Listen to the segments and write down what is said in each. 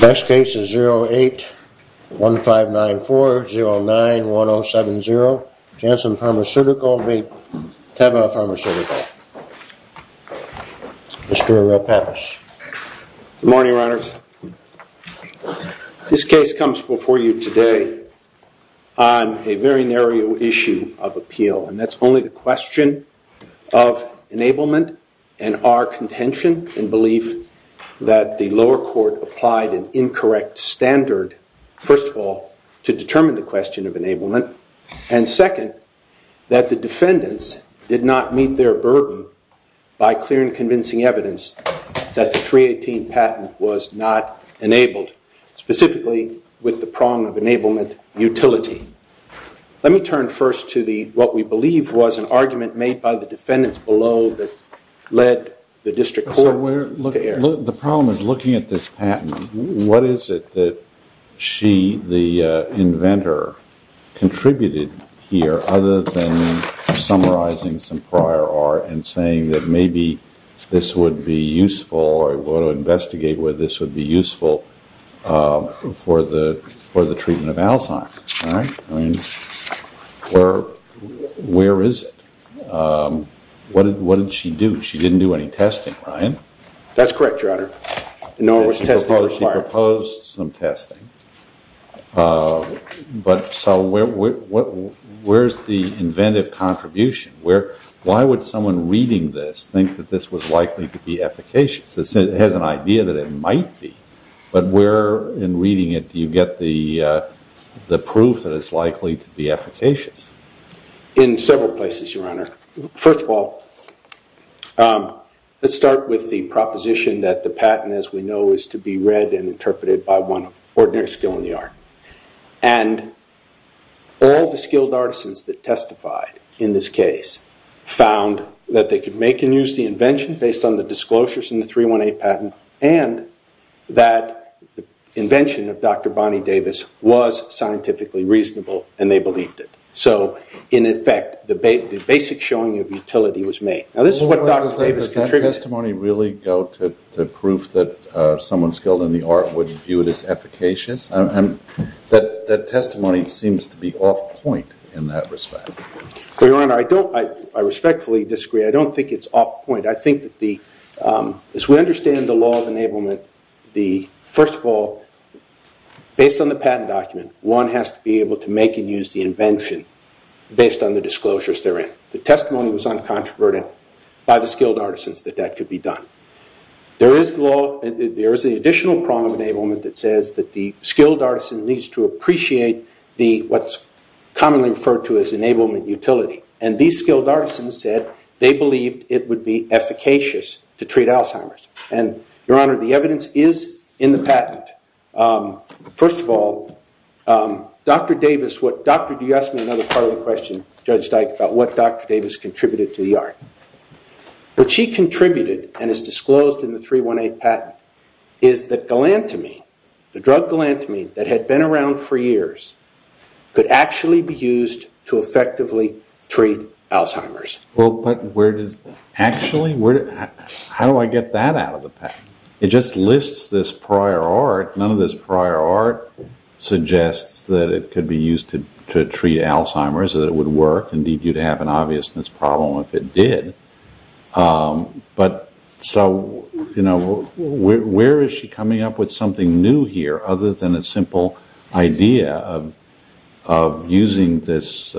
The best case is 08-1594-09-1070. Janssen Pharmaceutical v. Teva Pharmaceutical. Mr. Pappas. Good morning, Your Honor. This case comes before you today on a very narrow issue of appeal, and that's only the question of enablement and our contention in belief that the lower court applied an incorrect standard, first of all, to determine the question of enablement, and second, that the defendants did not meet their burden by clear and convincing evidence that the 318 patent was not enabled, specifically with the prong of enablement utility. Let me turn first to what we believe was an argument made by the defendants below that led the district court to err. The problem is looking at this patent, what is it that she, the inventor, contributed here other than summarizing some prior art and saying that maybe this would be useful or we'll investigate whether this would be useful for the treatment of Alzheimer's. Where is it? What did she do? She didn't do any testing, right? That's correct, Your Honor. No, there was testing required. I opposed some testing, but so where's the inventive contribution? Why would someone reading this think that this was likely to be efficacious? It has an idea that it might be, but where in reading it do you get the proof that it's likely to be efficacious? In several places, Your Honor. First of all, let's start with the proposition that the patent, as we know, is to be read and interpreted by one ordinary skill in the art. And all the skilled artisans that testified in this case found that they could make and use the invention based on the disclosures in the 318 patent and that the invention of Dr. Bonnie Davis was scientifically reasonable and they believed it. So, in effect, the basic showing of utility was made. Now this is what Dr. Davis contributed. Does that testimony really go to the proof that someone skilled in the art would view it as efficacious? That testimony seems to be off point in that respect. Your Honor, I respectfully disagree. I don't think it's off point. I think that as we understand the law of enablement, first of all, based on the patent document, one has to be able to make and use the invention based on the disclosures therein. The testimony was uncontroverted by the skilled artisans that that could be done. There is the additional prong of enablement that says that the skilled artisan needs to appreciate what's commonly referred to as enablement utility. And these skilled artisans said they believed it would be efficacious to treat Alzheimer's. And, Your Honor, the evidence is in the patent. First of all, Dr. Davis, you asked me another part of the question, Judge Dyke, about what Dr. Davis contributed to the art. What she contributed, and is disclosed in the 318 patent, is that galantamine, the drug galantamine that had been around for years, could actually be used to effectively treat Alzheimer's. Well, but where does actually? How do I get that out of the patent? It just lists this prior art. None of this prior art suggests that it could be used to treat Alzheimer's, that it would work. Indeed, you'd have an obviousness problem if it did. But so, you know, where is she coming up with something new here other than a simple idea of using this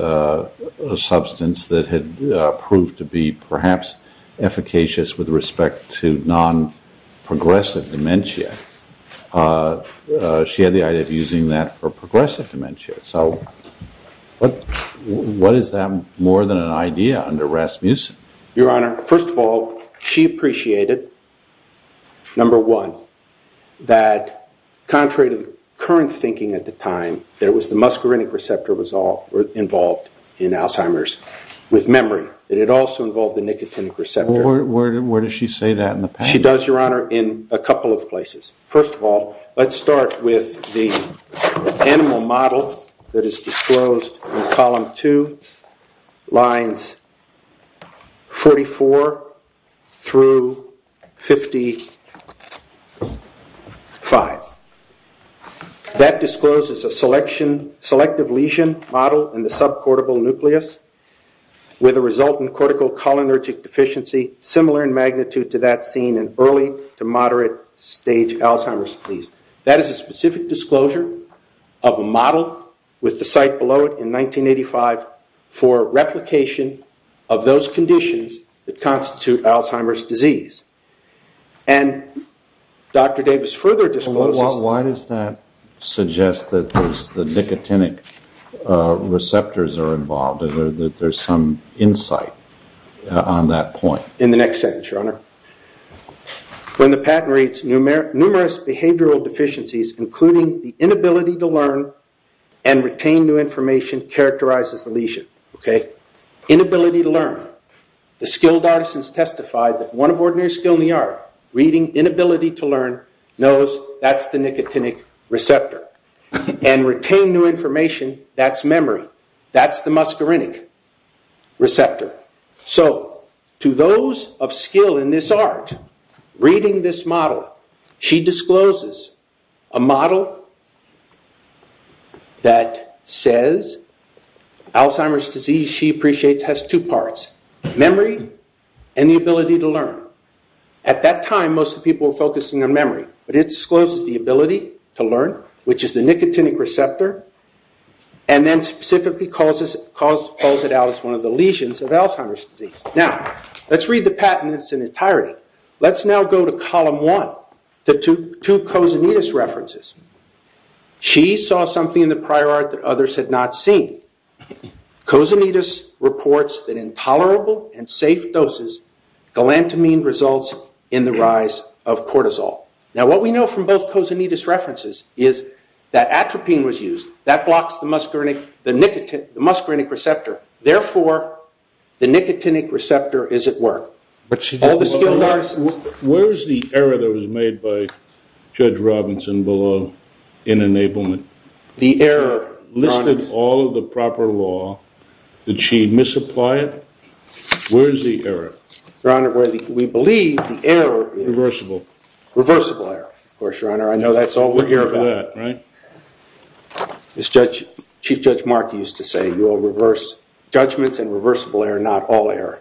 substance that had proved to be perhaps efficacious with respect to non-progressive dementia? She had the idea of using that for progressive dementia. So what is that more than an idea under Rasmussen? Your Honor, first of all, she appreciated, number one, that contrary to current thinking at the time, that it was the muscarinic receptor was involved in Alzheimer's with memory. It also involved the nicotinic receptor. Where does she say that in the patent? She does, Your Honor, in a couple of places. First of all, let's start with the animal model that is disclosed in column two, lines 44 through 55. That discloses a selective lesion model in the subcortical nucleus with a resultant cortical cholinergic deficiency similar in magnitude to that seen in early to moderate stage Alzheimer's disease. That is a specific disclosure of a model with the site below it in 1985 for replication of those conditions that constitute Alzheimer's disease. And Dr. Davis further discloses... Why does that suggest that the nicotinic receptors are involved, that there's some insight on that point? In the next sentence, Your Honor. When the patent reads, numerous behavioral deficiencies including the inability to learn and retain new information characterizes the lesion. Inability to learn. The skilled artisans testify that one of ordinary skill in the art, reading inability to learn, knows that's the nicotinic receptor. And retain new information, that's memory. That's the muscarinic receptor. So to those of skill in this art, reading this model, she discloses a model that says Alzheimer's disease, she appreciates, has two parts. Memory and the ability to learn. At that time, most of the people were focusing on memory. But it discloses the ability to learn, which is the nicotinic receptor. And then specifically calls it out as one of the lesions of Alzheimer's disease. Now, let's read the patent in its entirety. Let's now go to column one. The two Kozunidis references. She saw something in the prior art that others had not seen. Kozunidis reports that in tolerable and safe doses, galantamine results in the rise of cortisol. Now, what we know from both Kozunidis references is that atropine was used. That blocks the muscarinic receptor. Therefore, the nicotinic receptor is at work. Where is the error that was made by Judge Robinson below in enablement? The error. She listed all of the proper law. Did she misapply it? Where is the error? Your Honor, we believe the error is. Reversible. Reversible error. Of course, Your Honor, I know that's all we're here for. We're here for that, right? Chief Judge Mark used to say, you will reverse judgments and reversible error, not all error.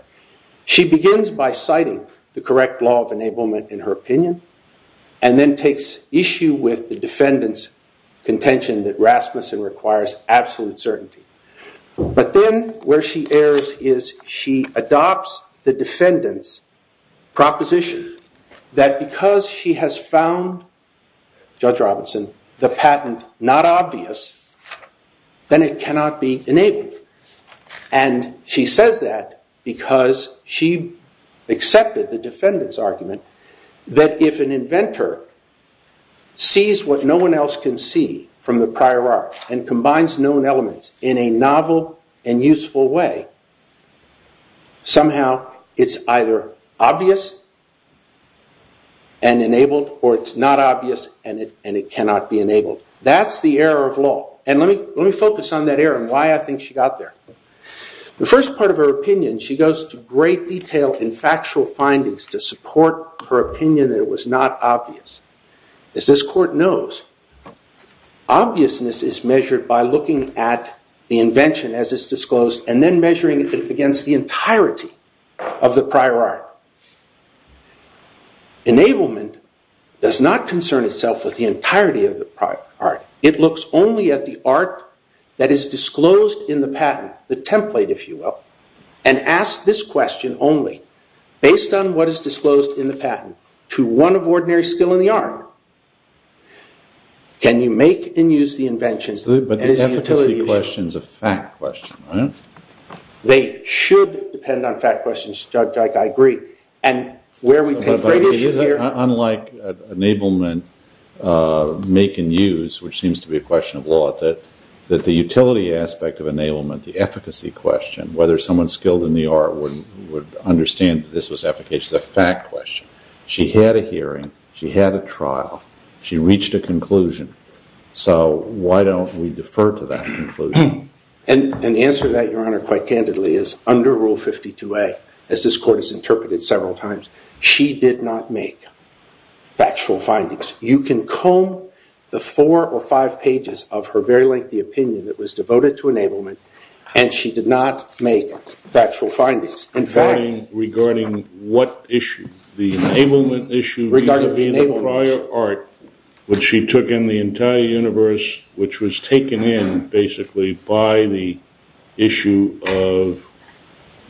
She begins by citing the correct law of enablement in her opinion. And then takes issue with the defendant's contention that Rasmussen requires absolute certainty. But then where she errs is she adopts the defendant's proposition that because she has found, Judge Robinson, the patent not obvious, then it cannot be enabled. And she says that because she accepted the defendant's argument that if an inventor sees what no one else can see from the prior art and combines known elements in a novel and useful way, somehow it's either obvious and enabled or it's not obvious and it cannot be enabled. That's the error of law. And let me focus on that error and why I think she got there. The first part of her opinion, she goes to great detail in factual findings to support her opinion that it was not obvious. As this Court knows, obviousness is measured by looking at the invention as it's disclosed and then measuring it against the entirety of the prior art. Enablement does not concern itself with the entirety of the prior art. It looks only at the art that is disclosed in the patent, the template, if you will, and asks this question only based on what is disclosed in the patent to one of ordinary skill in the art. Can you make and use the inventions? But the efficacy question is a fact question, right? They should depend on fact questions, Judge Ike. I agree. Unlike enablement, make and use, which seems to be a question of law, that the utility aspect of enablement, the efficacy question, whether someone skilled in the art would understand that this was efficacy is a fact question. She had a hearing. She had a trial. She reached a conclusion. So why don't we defer to that conclusion? And the answer to that, Your Honor, quite candidly, is under Rule 52A, as this Court has interpreted several times, she did not make factual findings. You can comb the four or five pages of her very lengthy opinion that was devoted to enablement, and she did not make factual findings. Regarding what issue? The enablement issue regarding the prior art, which she took in the entire universe, which was taken in basically by the issue of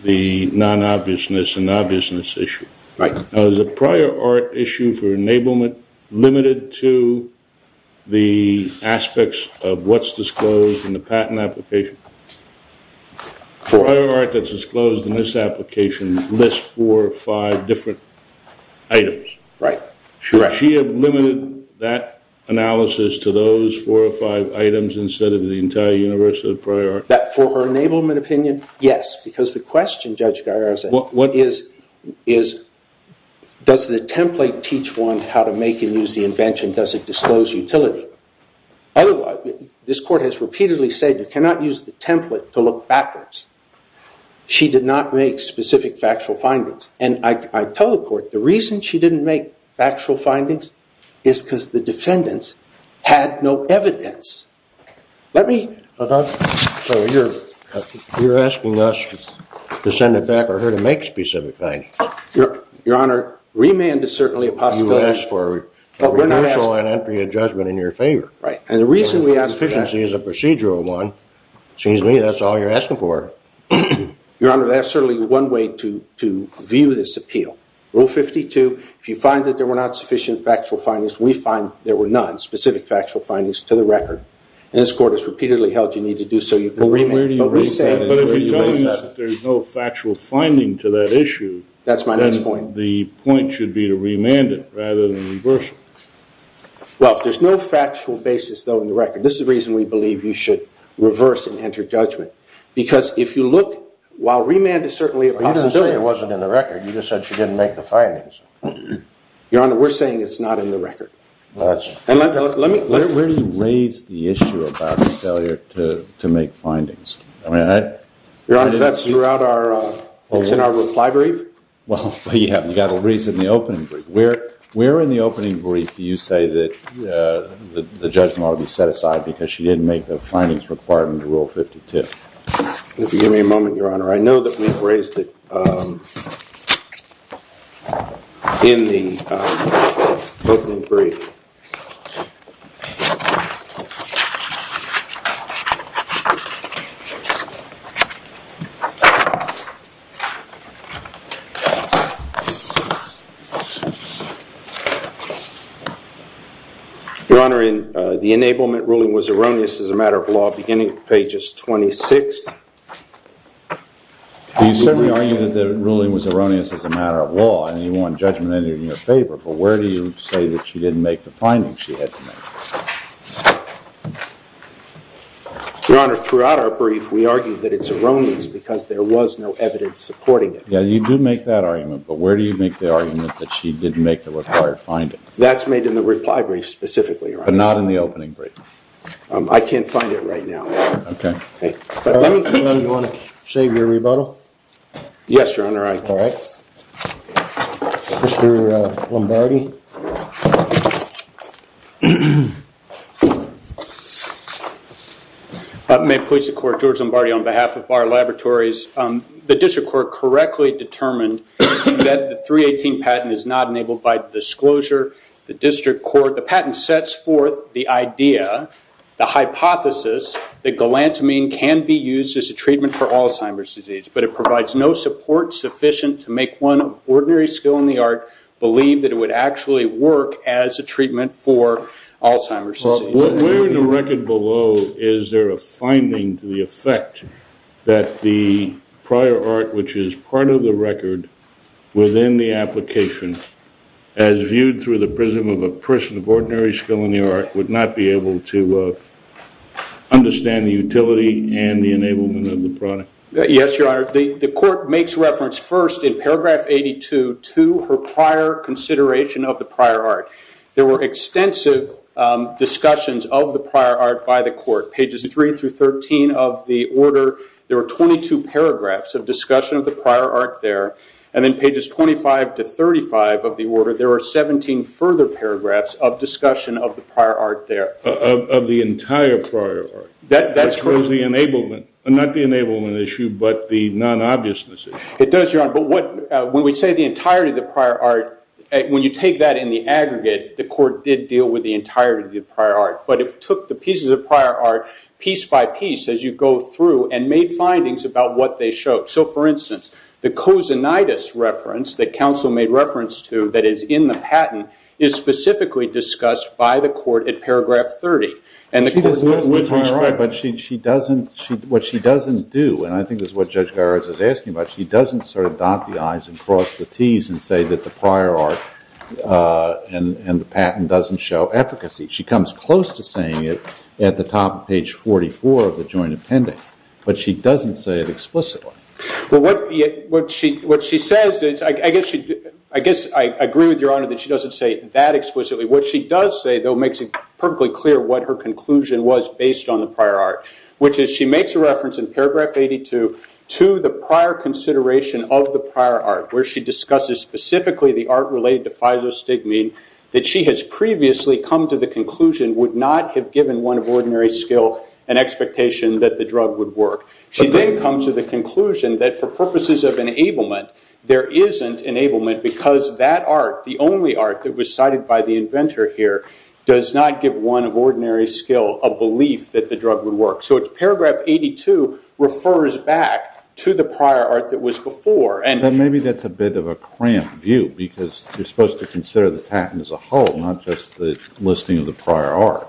the non-obviousness and obviousness issue. Right. Was the prior art issue for enablement limited to the aspects of what's disclosed in the patent application? The prior art that's disclosed in this application lists four or five different items. Right. Correct. Does she have limited that analysis to those four or five items instead of the entire universe of the prior art? That for her enablement opinion, yes, because the question, Judge Garrison, is does the template teach one how to make and use the invention? Does it disclose utility? Otherwise, this Court has repeatedly said you cannot use the template to look backwards. She did not make specific factual findings. And I tell the Court the reason she didn't make factual findings is because the defendants had no evidence. Let me… So you're asking us to send it back for her to make specific findings? Your Honor, remand is certainly a possibility. But we're not asking… Right. And the reason we ask that… Your Honor, that's certainly one way to view this appeal. Rule 52, if you find that there were not sufficient factual findings, we find there were none, specific factual findings to the record. And this Court has repeatedly held you need to do so. You can remand. But if you're telling us that there's no factual finding to that issue… That's my next point. The point should be to remand it rather than reverse it. Well, if there's no factual basis, though, in the record, this is the reason we believe you should reverse and enter judgment. Because if you look, while remand is certainly a possibility… You didn't say it wasn't in the record. You just said she didn't make the findings. Your Honor, we're saying it's not in the record. Where do you raise the issue about the failure to make findings? Your Honor, that's throughout our… It's in our reply brief. Well, you have to raise it in the opening brief. Where in the opening brief do you say that the judgment ought to be set aside because she didn't make the findings required under Rule 52? If you give me a moment, Your Honor, I know that we've raised it in the opening brief. Your Honor, the enablement ruling was erroneous as a matter of law beginning with pages 26. You certainly argue that the ruling was erroneous as a matter of law, and you want judgment in your favor. But where do you say that she didn't make the findings she had to make? Your Honor, throughout our brief, we argued that it's erroneous because there was no evidence supporting it. Yeah, you do make that argument, but where do you make the argument that she didn't make the required findings? That's made in the reply brief specifically, Your Honor. But not in the opening brief? I can't find it right now. Your Honor, do you want to save your rebuttal? Yes, Your Honor, I do. Mr. Lombardi? Thank you. May it please the Court, George Lombardi on behalf of Barr Laboratories. The district court correctly determined that the 318 patent is not enabled by disclosure. The patent sets forth the idea, the hypothesis, that galantamine can be used as a treatment for Alzheimer's disease, but it provides no support sufficient to make one ordinary skill in the art believe that it would actually work as a treatment for Alzheimer's disease. Where in the record below is there a finding to the effect that the prior art, which is part of the record, within the application, as viewed through the prism of a person of ordinary skill in the art, would not be able to understand the utility and the enablement of the product? Yes, Your Honor. The Court makes reference first in paragraph 82 to her prior consideration of the prior art. There were extensive discussions of the prior art by the Court. Pages 3 through 13 of the order, there were 22 paragraphs of discussion of the prior art there. And then pages 25 to 35 of the order, there were 17 further paragraphs of discussion of the prior art there. Of the entire prior art? That's correct. Not the enablement issue, but the non-obviousness issue. It does, Your Honor. But when we say the entirety of the prior art, when you take that in the aggregate, the Court did deal with the entirety of the prior art. But it took the pieces of prior art piece by piece as you go through and made findings about what they showed. So, for instance, the cosinitis reference that counsel made reference to that is in the patent is specifically discussed by the Court in paragraph 30. She does discuss the prior art, but what she doesn't do, and I think this is what Judge Garris is asking about, she doesn't sort of dot the i's and cross the t's and say that the prior art and the patent doesn't show efficacy. She comes close to saying it at the top of page 44 of the joint appendix, but she doesn't say it explicitly. But what she says is, I guess I agree with Your Honor that she doesn't say it that explicitly. What she does say, though, makes it perfectly clear what her conclusion was based on the prior art, which is she makes a reference in paragraph 82 to the prior consideration of the prior art, where she discusses specifically the art related to phytostigmine that she has previously come to the conclusion would not have given one of ordinary skill an expectation that the drug would work. She then comes to the conclusion that for purposes of enablement, there isn't enablement because that art, the only art that was cited by the inventor here, does not give one of ordinary skill a belief that the drug would work. So paragraph 82 refers back to the prior art that was before. But maybe that's a bit of a cramped view because you're supposed to consider the patent as a whole, not just the listing of the prior art.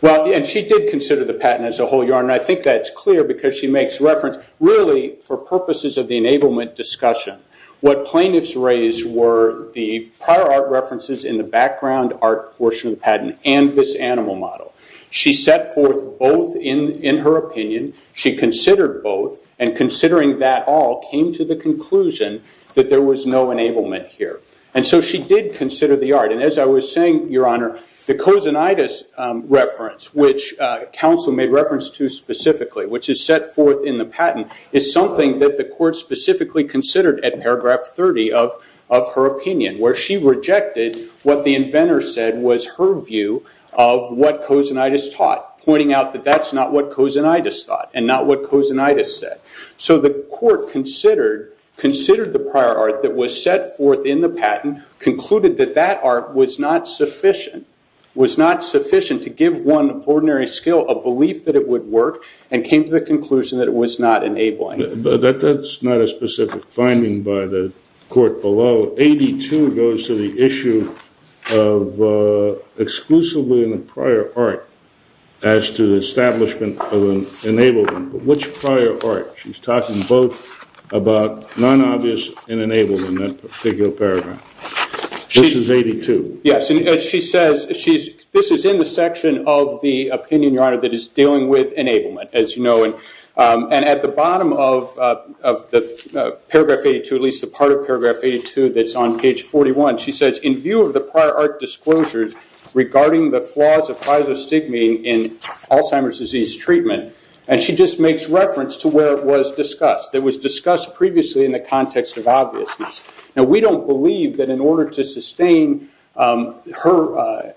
Well, and she did consider the patent as a whole, Your Honor, and I think that's clear because she makes reference, really, for purposes of the enablement discussion. What plaintiffs raised were the prior art references in the background art portion of the patent and this animal model. She set forth both in her opinion. She considered both, and considering that all, came to the conclusion that there was no enablement here. And so she did consider the art. And as I was saying, Your Honor, the cosinitis reference, which counsel made reference to specifically, which is set forth in the patent, is something that the court specifically considered at paragraph 30 of her opinion, where she rejected what the inventor said was her view of what cosinitis taught, pointing out that that's not what cosinitis thought and not what cosinitis said. So the court considered the prior art that was set forth in the patent, concluded that that art was not sufficient to give one of ordinary skill a belief that it would work, and came to the conclusion that it was not enabling. But that's not a specific finding by the court below. 82 goes to the issue of exclusively in the prior art as to the establishment of enablement. But which prior art? She's talking both about non-obvious and enablement in that particular paragraph. This is 82. Yes, and as she says, this is in the section of the opinion, Your Honor, that is dealing with enablement, as you know. And at the bottom of the paragraph 82, at least the part of paragraph 82 that's on page 41, she says, in view of the prior art disclosures regarding the flaws of pyelostigmine in Alzheimer's disease treatment, and she just makes reference to where it was discussed. It was discussed previously in the context of obviousness. Now, we don't believe that in order to sustain her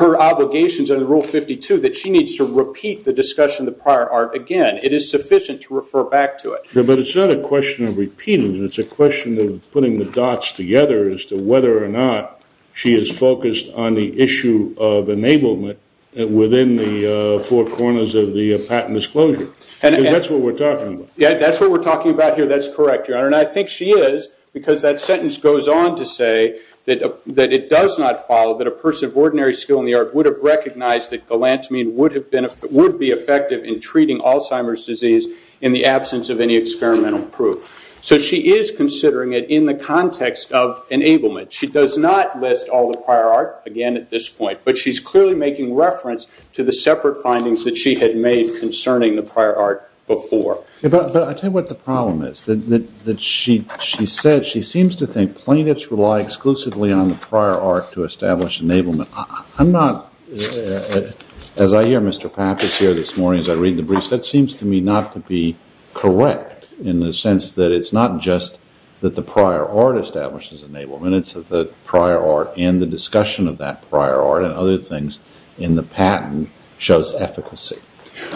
obligations under Rule 52, that she needs to repeat the discussion of the prior art again. It is sufficient to refer back to it. But it's not a question of repeating it. It's a question of putting the dots together as to whether or not she is focused on the issue of enablement within the four corners of the patent disclosure. Because that's what we're talking about. Yeah, that's what we're talking about here. That's correct, Your Honor. And I think she is, because that sentence goes on to say that it does not follow that a person of ordinary skill in the art would have recognized that galantamine would be effective in treating Alzheimer's disease in the absence of any experimental proof. So she is considering it in the context of enablement. She does not list all the prior art again at this point, but she's clearly making reference to the separate findings that she had made concerning the prior art before. But I tell you what the problem is. She said she seems to think plaintiffs rely exclusively on the prior art to establish enablement. I'm not, as I hear Mr. Papp is here this morning as I read the briefs, that seems to me not to be correct in the sense that it's not just that the prior art establishes enablement. It's that the prior art and the discussion of that prior art and other things in the patent shows efficacy.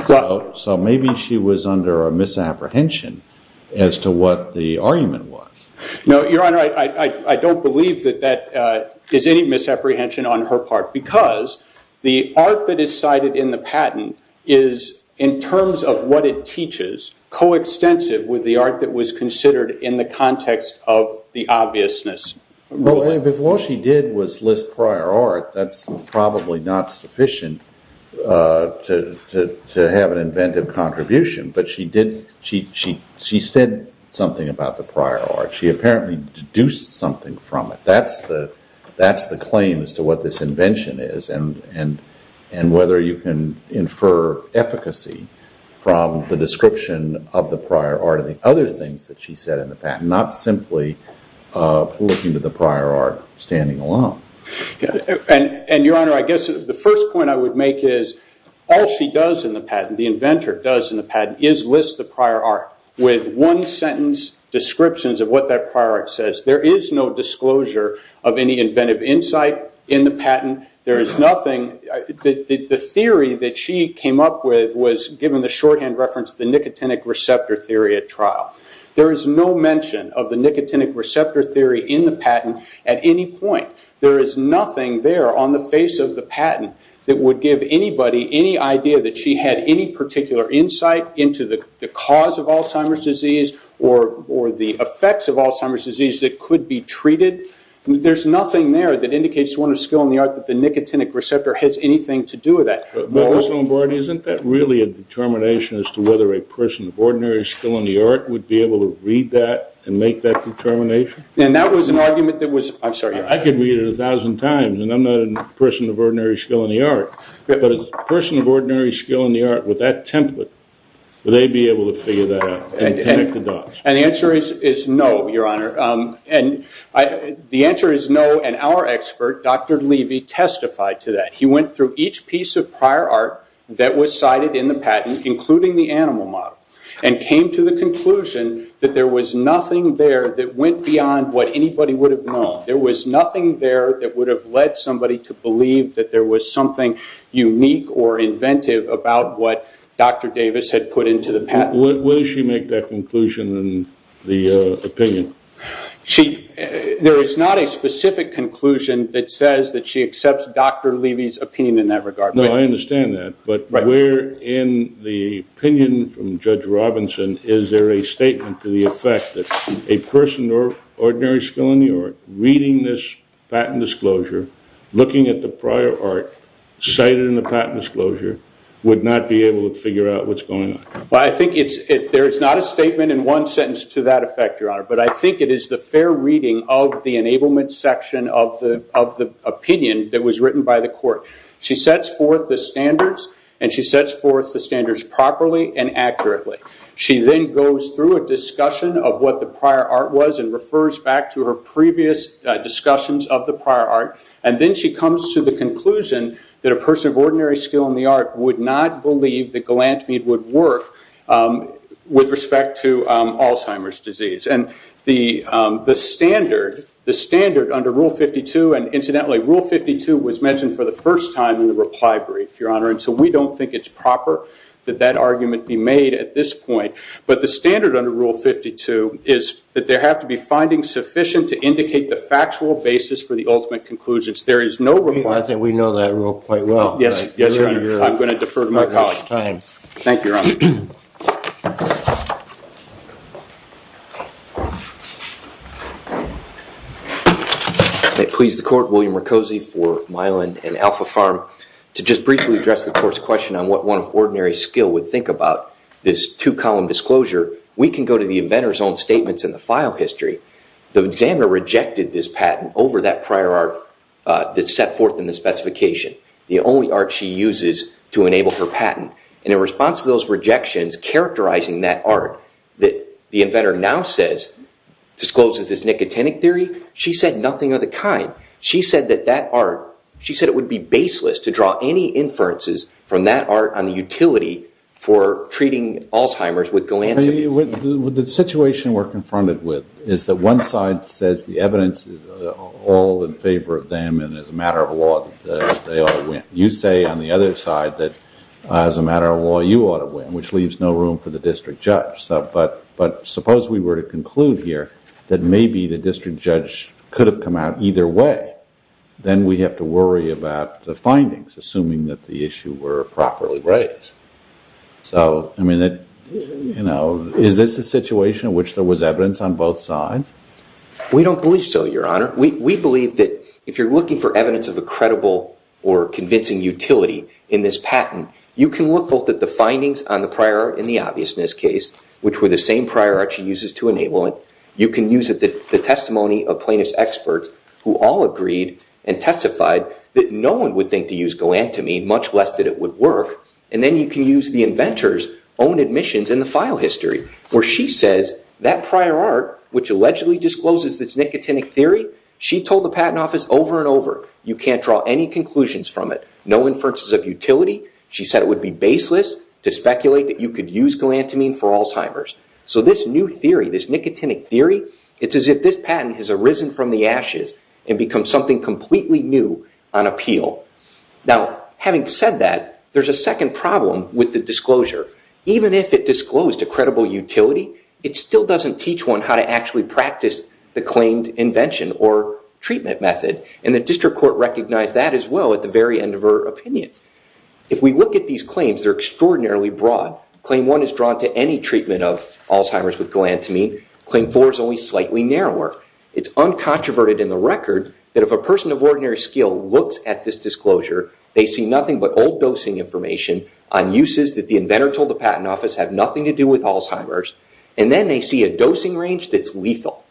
So maybe she was under a misapprehension as to what the argument was. No, Your Honor, I don't believe that that is any misapprehension on her part, because the art that is cited in the patent is, in terms of what it teaches, coextensive with the art that was considered in the context of the obviousness. What she did was list prior art. That's probably not sufficient to have an inventive contribution, but she said something about the prior art. She apparently deduced something from it. That's the claim as to what this invention is and whether you can infer efficacy from the description of the prior art or the other things that she said in the patent, not simply looking to the prior art standing alone. Your Honor, I guess the first point I would make is, all she does in the patent, the inventor does in the patent, is list the prior art with one-sentence descriptions of what that prior art says. There is no disclosure of any inventive insight in the patent. The theory that she came up with was, given the shorthand reference, the nicotinic receptor theory at trial. There is no mention of the nicotinic receptor theory in the patent at any point. There is nothing there on the face of the patent that would give anybody any idea that she had any particular insight into the cause of Alzheimer's disease or the effects of Alzheimer's disease that could be treated. There is nothing there that indicates to one of skill in the art that the nicotinic receptor has anything to do with that. Isn't that really a determination as to whether a person of ordinary skill in the art would be able to read that and make that determination? I could read it a thousand times, and I'm not a person of ordinary skill in the art, but a person of ordinary skill in the art with that template, would they be able to figure that out and connect the dots? The answer is no, Your Honor. The answer is no, and our expert, Dr. Levy, testified to that. He went through each piece of prior art that was cited in the patent, including the animal model, and came to the conclusion that there was nothing there that went beyond what anybody would have known. There was nothing there that would have led somebody to believe that there was something unique or inventive about what Dr. Davis had put into the patent. Will she make that conclusion in the opinion? There is not a specific conclusion that says that she accepts Dr. Levy's opinion in that regard. No, I understand that, but where in the opinion from Judge Robinson is there a statement to the effect that a person of ordinary skill in the art reading this patent disclosure, looking at the prior art, cited in the patent disclosure, would not be able to figure out what's going on? I think there is not a statement in one sentence to that effect, Your Honor, but I think it is the fair reading of the enablement section of the opinion that was written by the court. She sets forth the standards, and she sets forth the standards properly and accurately. She then goes through a discussion of what the prior art was and refers back to her previous discussions of the prior art, and then she comes to the conclusion that a person of ordinary skill in the art would not believe that galantamide would work with respect to Alzheimer's disease. And the standard under Rule 52, and incidentally, Rule 52 was mentioned for the first time in the reply brief, Your Honor, and so we don't think it's proper that that argument be made at this point. But the standard under Rule 52 is that there have to be findings sufficient to indicate the factual basis for the ultimate conclusions. There is no requirement. I think we know that rule quite well. Yes, Your Honor. I'm going to defer to my colleague. Thank you, Your Honor. May it please the Court, William Mercozzi for Miland and Alpha Farm. To just briefly address the Court's question on what one of ordinary skill would think about this two-column disclosure, we can go to the inventor's own statements in the file history. The examiner rejected this patent over that prior art that's set forth in the specification. The only art she uses to enable her patent. And in response to those rejections characterizing that art that the inventor now says discloses this nicotinic theory, she said nothing of the kind. She said that that art, she said it would be baseless to draw any inferences from that art on the utility for treating Alzheimer's with galantamide. The situation we're confronted with is that one side says the evidence is all in favor of them and as a matter of law they ought to win. You say on the other side that as a matter of law you ought to win, which leaves no room for the district judge. But suppose we were to conclude here that maybe the district judge could have come out either way. Then we have to worry about the findings, assuming that the issue were properly raised. So, I mean, you know, is this a situation in which there was evidence on both sides? We don't believe so, Your Honor. We believe that if you're looking for evidence of a credible or convincing utility in this patent, you can look both at the findings on the prior art in the obviousness case, which were the same prior art she uses to enable it. You can use the testimony of plaintiff's experts who all agreed and testified that no one would think to use galantamide, much less that it would work. And then you can use the inventor's own admissions and the file history where she says that prior art, which allegedly discloses this nicotinic theory, she told the patent office over and over, you can't draw any conclusions from it. No inferences of utility. She said it would be baseless to speculate that you could use galantamine for Alzheimer's. So this new theory, this nicotinic theory, it's as if this patent has arisen from the ashes and become something completely new on appeal. Now, having said that, there's a second problem with the disclosure. Even if it disclosed a credible utility, it still doesn't teach one how to actually practice the claimed invention or treatment method. And the district court recognized that as well at the very end of her opinion. If we look at these claims, they're extraordinarily broad. Claim 1 is drawn to any treatment of Alzheimer's with galantamine. Claim 4 is only slightly narrower. It's uncontroverted in the record that if a person of ordinary skill looks at this disclosure, they see nothing but old dosing information on uses that the inventor told the patent office have nothing to do with Alzheimer's. And then they see a dosing range that's lethal.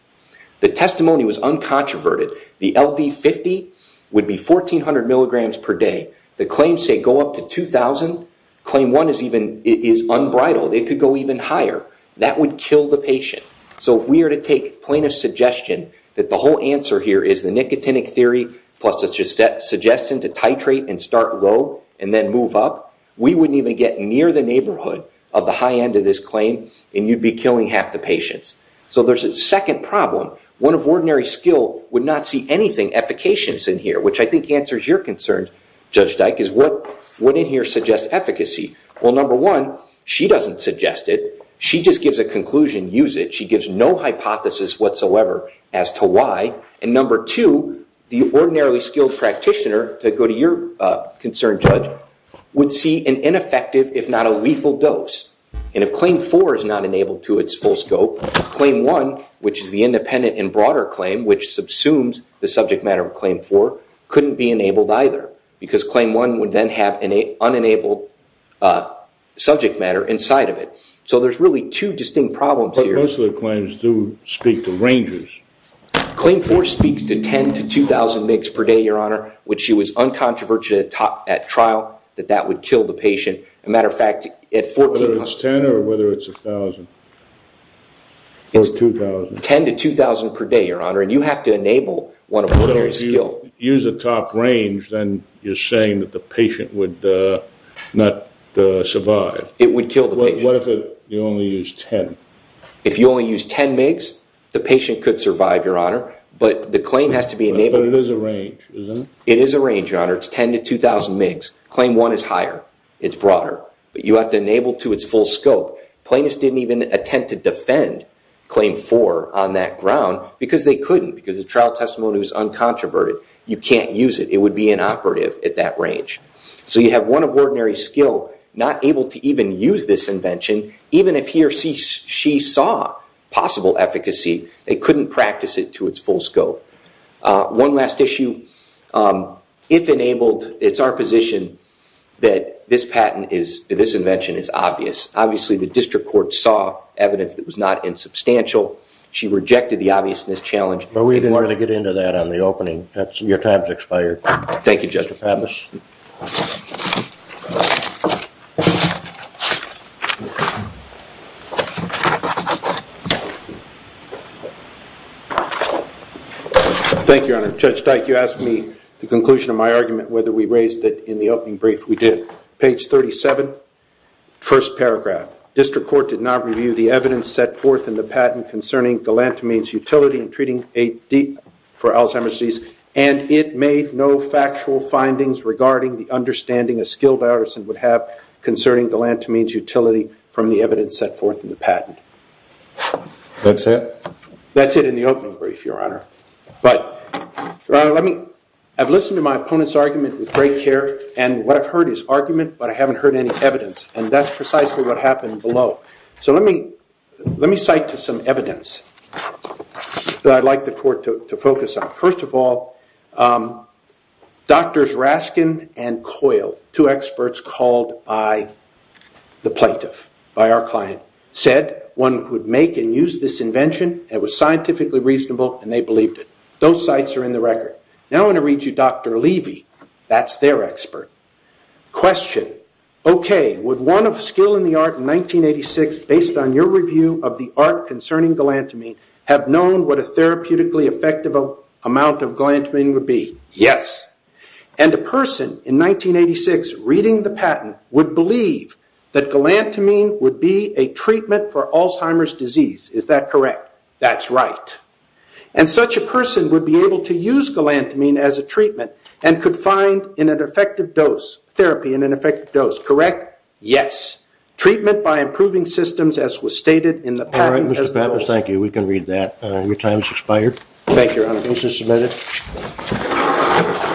The testimony was uncontroverted. The LD50 would be 1,400 milligrams per day. The claims say go up to 2,000. Claim 1 is unbridled. It could go even higher. That would kill the patient. So if we are to take plaintiff's suggestion that the whole answer here is the nicotinic theory plus a suggestion to titrate and start low and then move up, we wouldn't even get near the neighborhood of the high end of this claim, and you'd be killing half the patients. So there's a second problem. One of ordinary skill would not see anything efficacious in here, which I think answers your concern, Judge Dyke, is what in here suggests efficacy? Well, number one, she doesn't suggest it. She just gives a conclusion, use it. She gives no hypothesis whatsoever as to why. And number two, the ordinarily skilled practitioner, to go to your concern, Judge, would see an ineffective if not a lethal dose. And if Claim 4 is not enabled to its full scope, Claim 1, which is the independent and broader claim, which subsumes the subject matter of Claim 4, couldn't be enabled either because Claim 1 would then have an unenabled subject matter inside of it. So there's really two distinct problems here. But most of the claims do speak to rangers. Claim 4 speaks to 10,000 to 2,000 migs per day, Your Honor, which she was uncontroversial at trial that that would kill the patient. As a matter of fact, at 14,000. Whether it's 10 or whether it's 1,000 or 2,000. It's 10,000 to 2,000 per day, Your Honor, and you have to enable one of ordinary skill. So if you use a top range, then you're saying that the patient would not survive. It would kill the patient. What if you only use 10? If you only use 10 migs, the patient could survive, Your Honor. But the claim has to be enabled. But it is a range, isn't it? It is a range, Your Honor. It's 10 to 2,000 migs. Claim 1 is higher. It's broader. But you have to enable to its full scope. Plaintiffs didn't even attempt to defend Claim 4 on that ground because they couldn't. Because the trial testimony was uncontroverted. You can't use it. It would be inoperative at that range. So you have one of ordinary skill not able to even use this invention, even if he or she saw possible efficacy, they couldn't practice it to its full scope. One last issue. If enabled, it's our position that this patent, this invention is obvious. Obviously, the district court saw evidence that was not insubstantial. She rejected the obviousness challenge. But we didn't want to get into that on the opening. Your time has expired. Thank you, Judge. Judge DeFantis. Thank you, Your Honor. Judge Dyke, you asked me the conclusion of my argument whether we raised it in the opening brief. We did. Page 37, first paragraph. District court did not review the evidence set forth in the patent concerning galantamine's utility in treating AD for Alzheimer's disease. And it made no factual findings regarding the understanding a skilled artisan would have concerning galantamine's utility from the evidence set forth in the patent. That's it? That's it in the opening brief, Your Honor. But, Your Honor, I've listened to my opponent's argument with great care. And what I've heard is argument, but I haven't heard any evidence. And that's precisely what happened below. So let me cite some evidence that I'd like the court to focus on. First of all, Drs. Raskin and Coyle, two experts called by the plaintiff, by our client, said one could make and use this invention. It was scientifically reasonable, and they believed it. Those sites are in the record. Now I'm going to read you Dr. Levy. That's their expert. Question. Okay, would one of skill in the art in 1986, based on your review of the art concerning galantamine, have known what a therapeutically effective amount of galantamine would be? Yes. And a person in 1986 reading the patent would believe that galantamine would be a treatment for Alzheimer's disease. Is that correct? That's right. And such a person would be able to use galantamine as a treatment and could find therapy in an effective dose. Correct? Yes. Treatment by improving systems as was stated in the patent. All right, Mr. Pappas, thank you. We can read that. Your time has expired. Thank you, Your Honor. Case is submitted.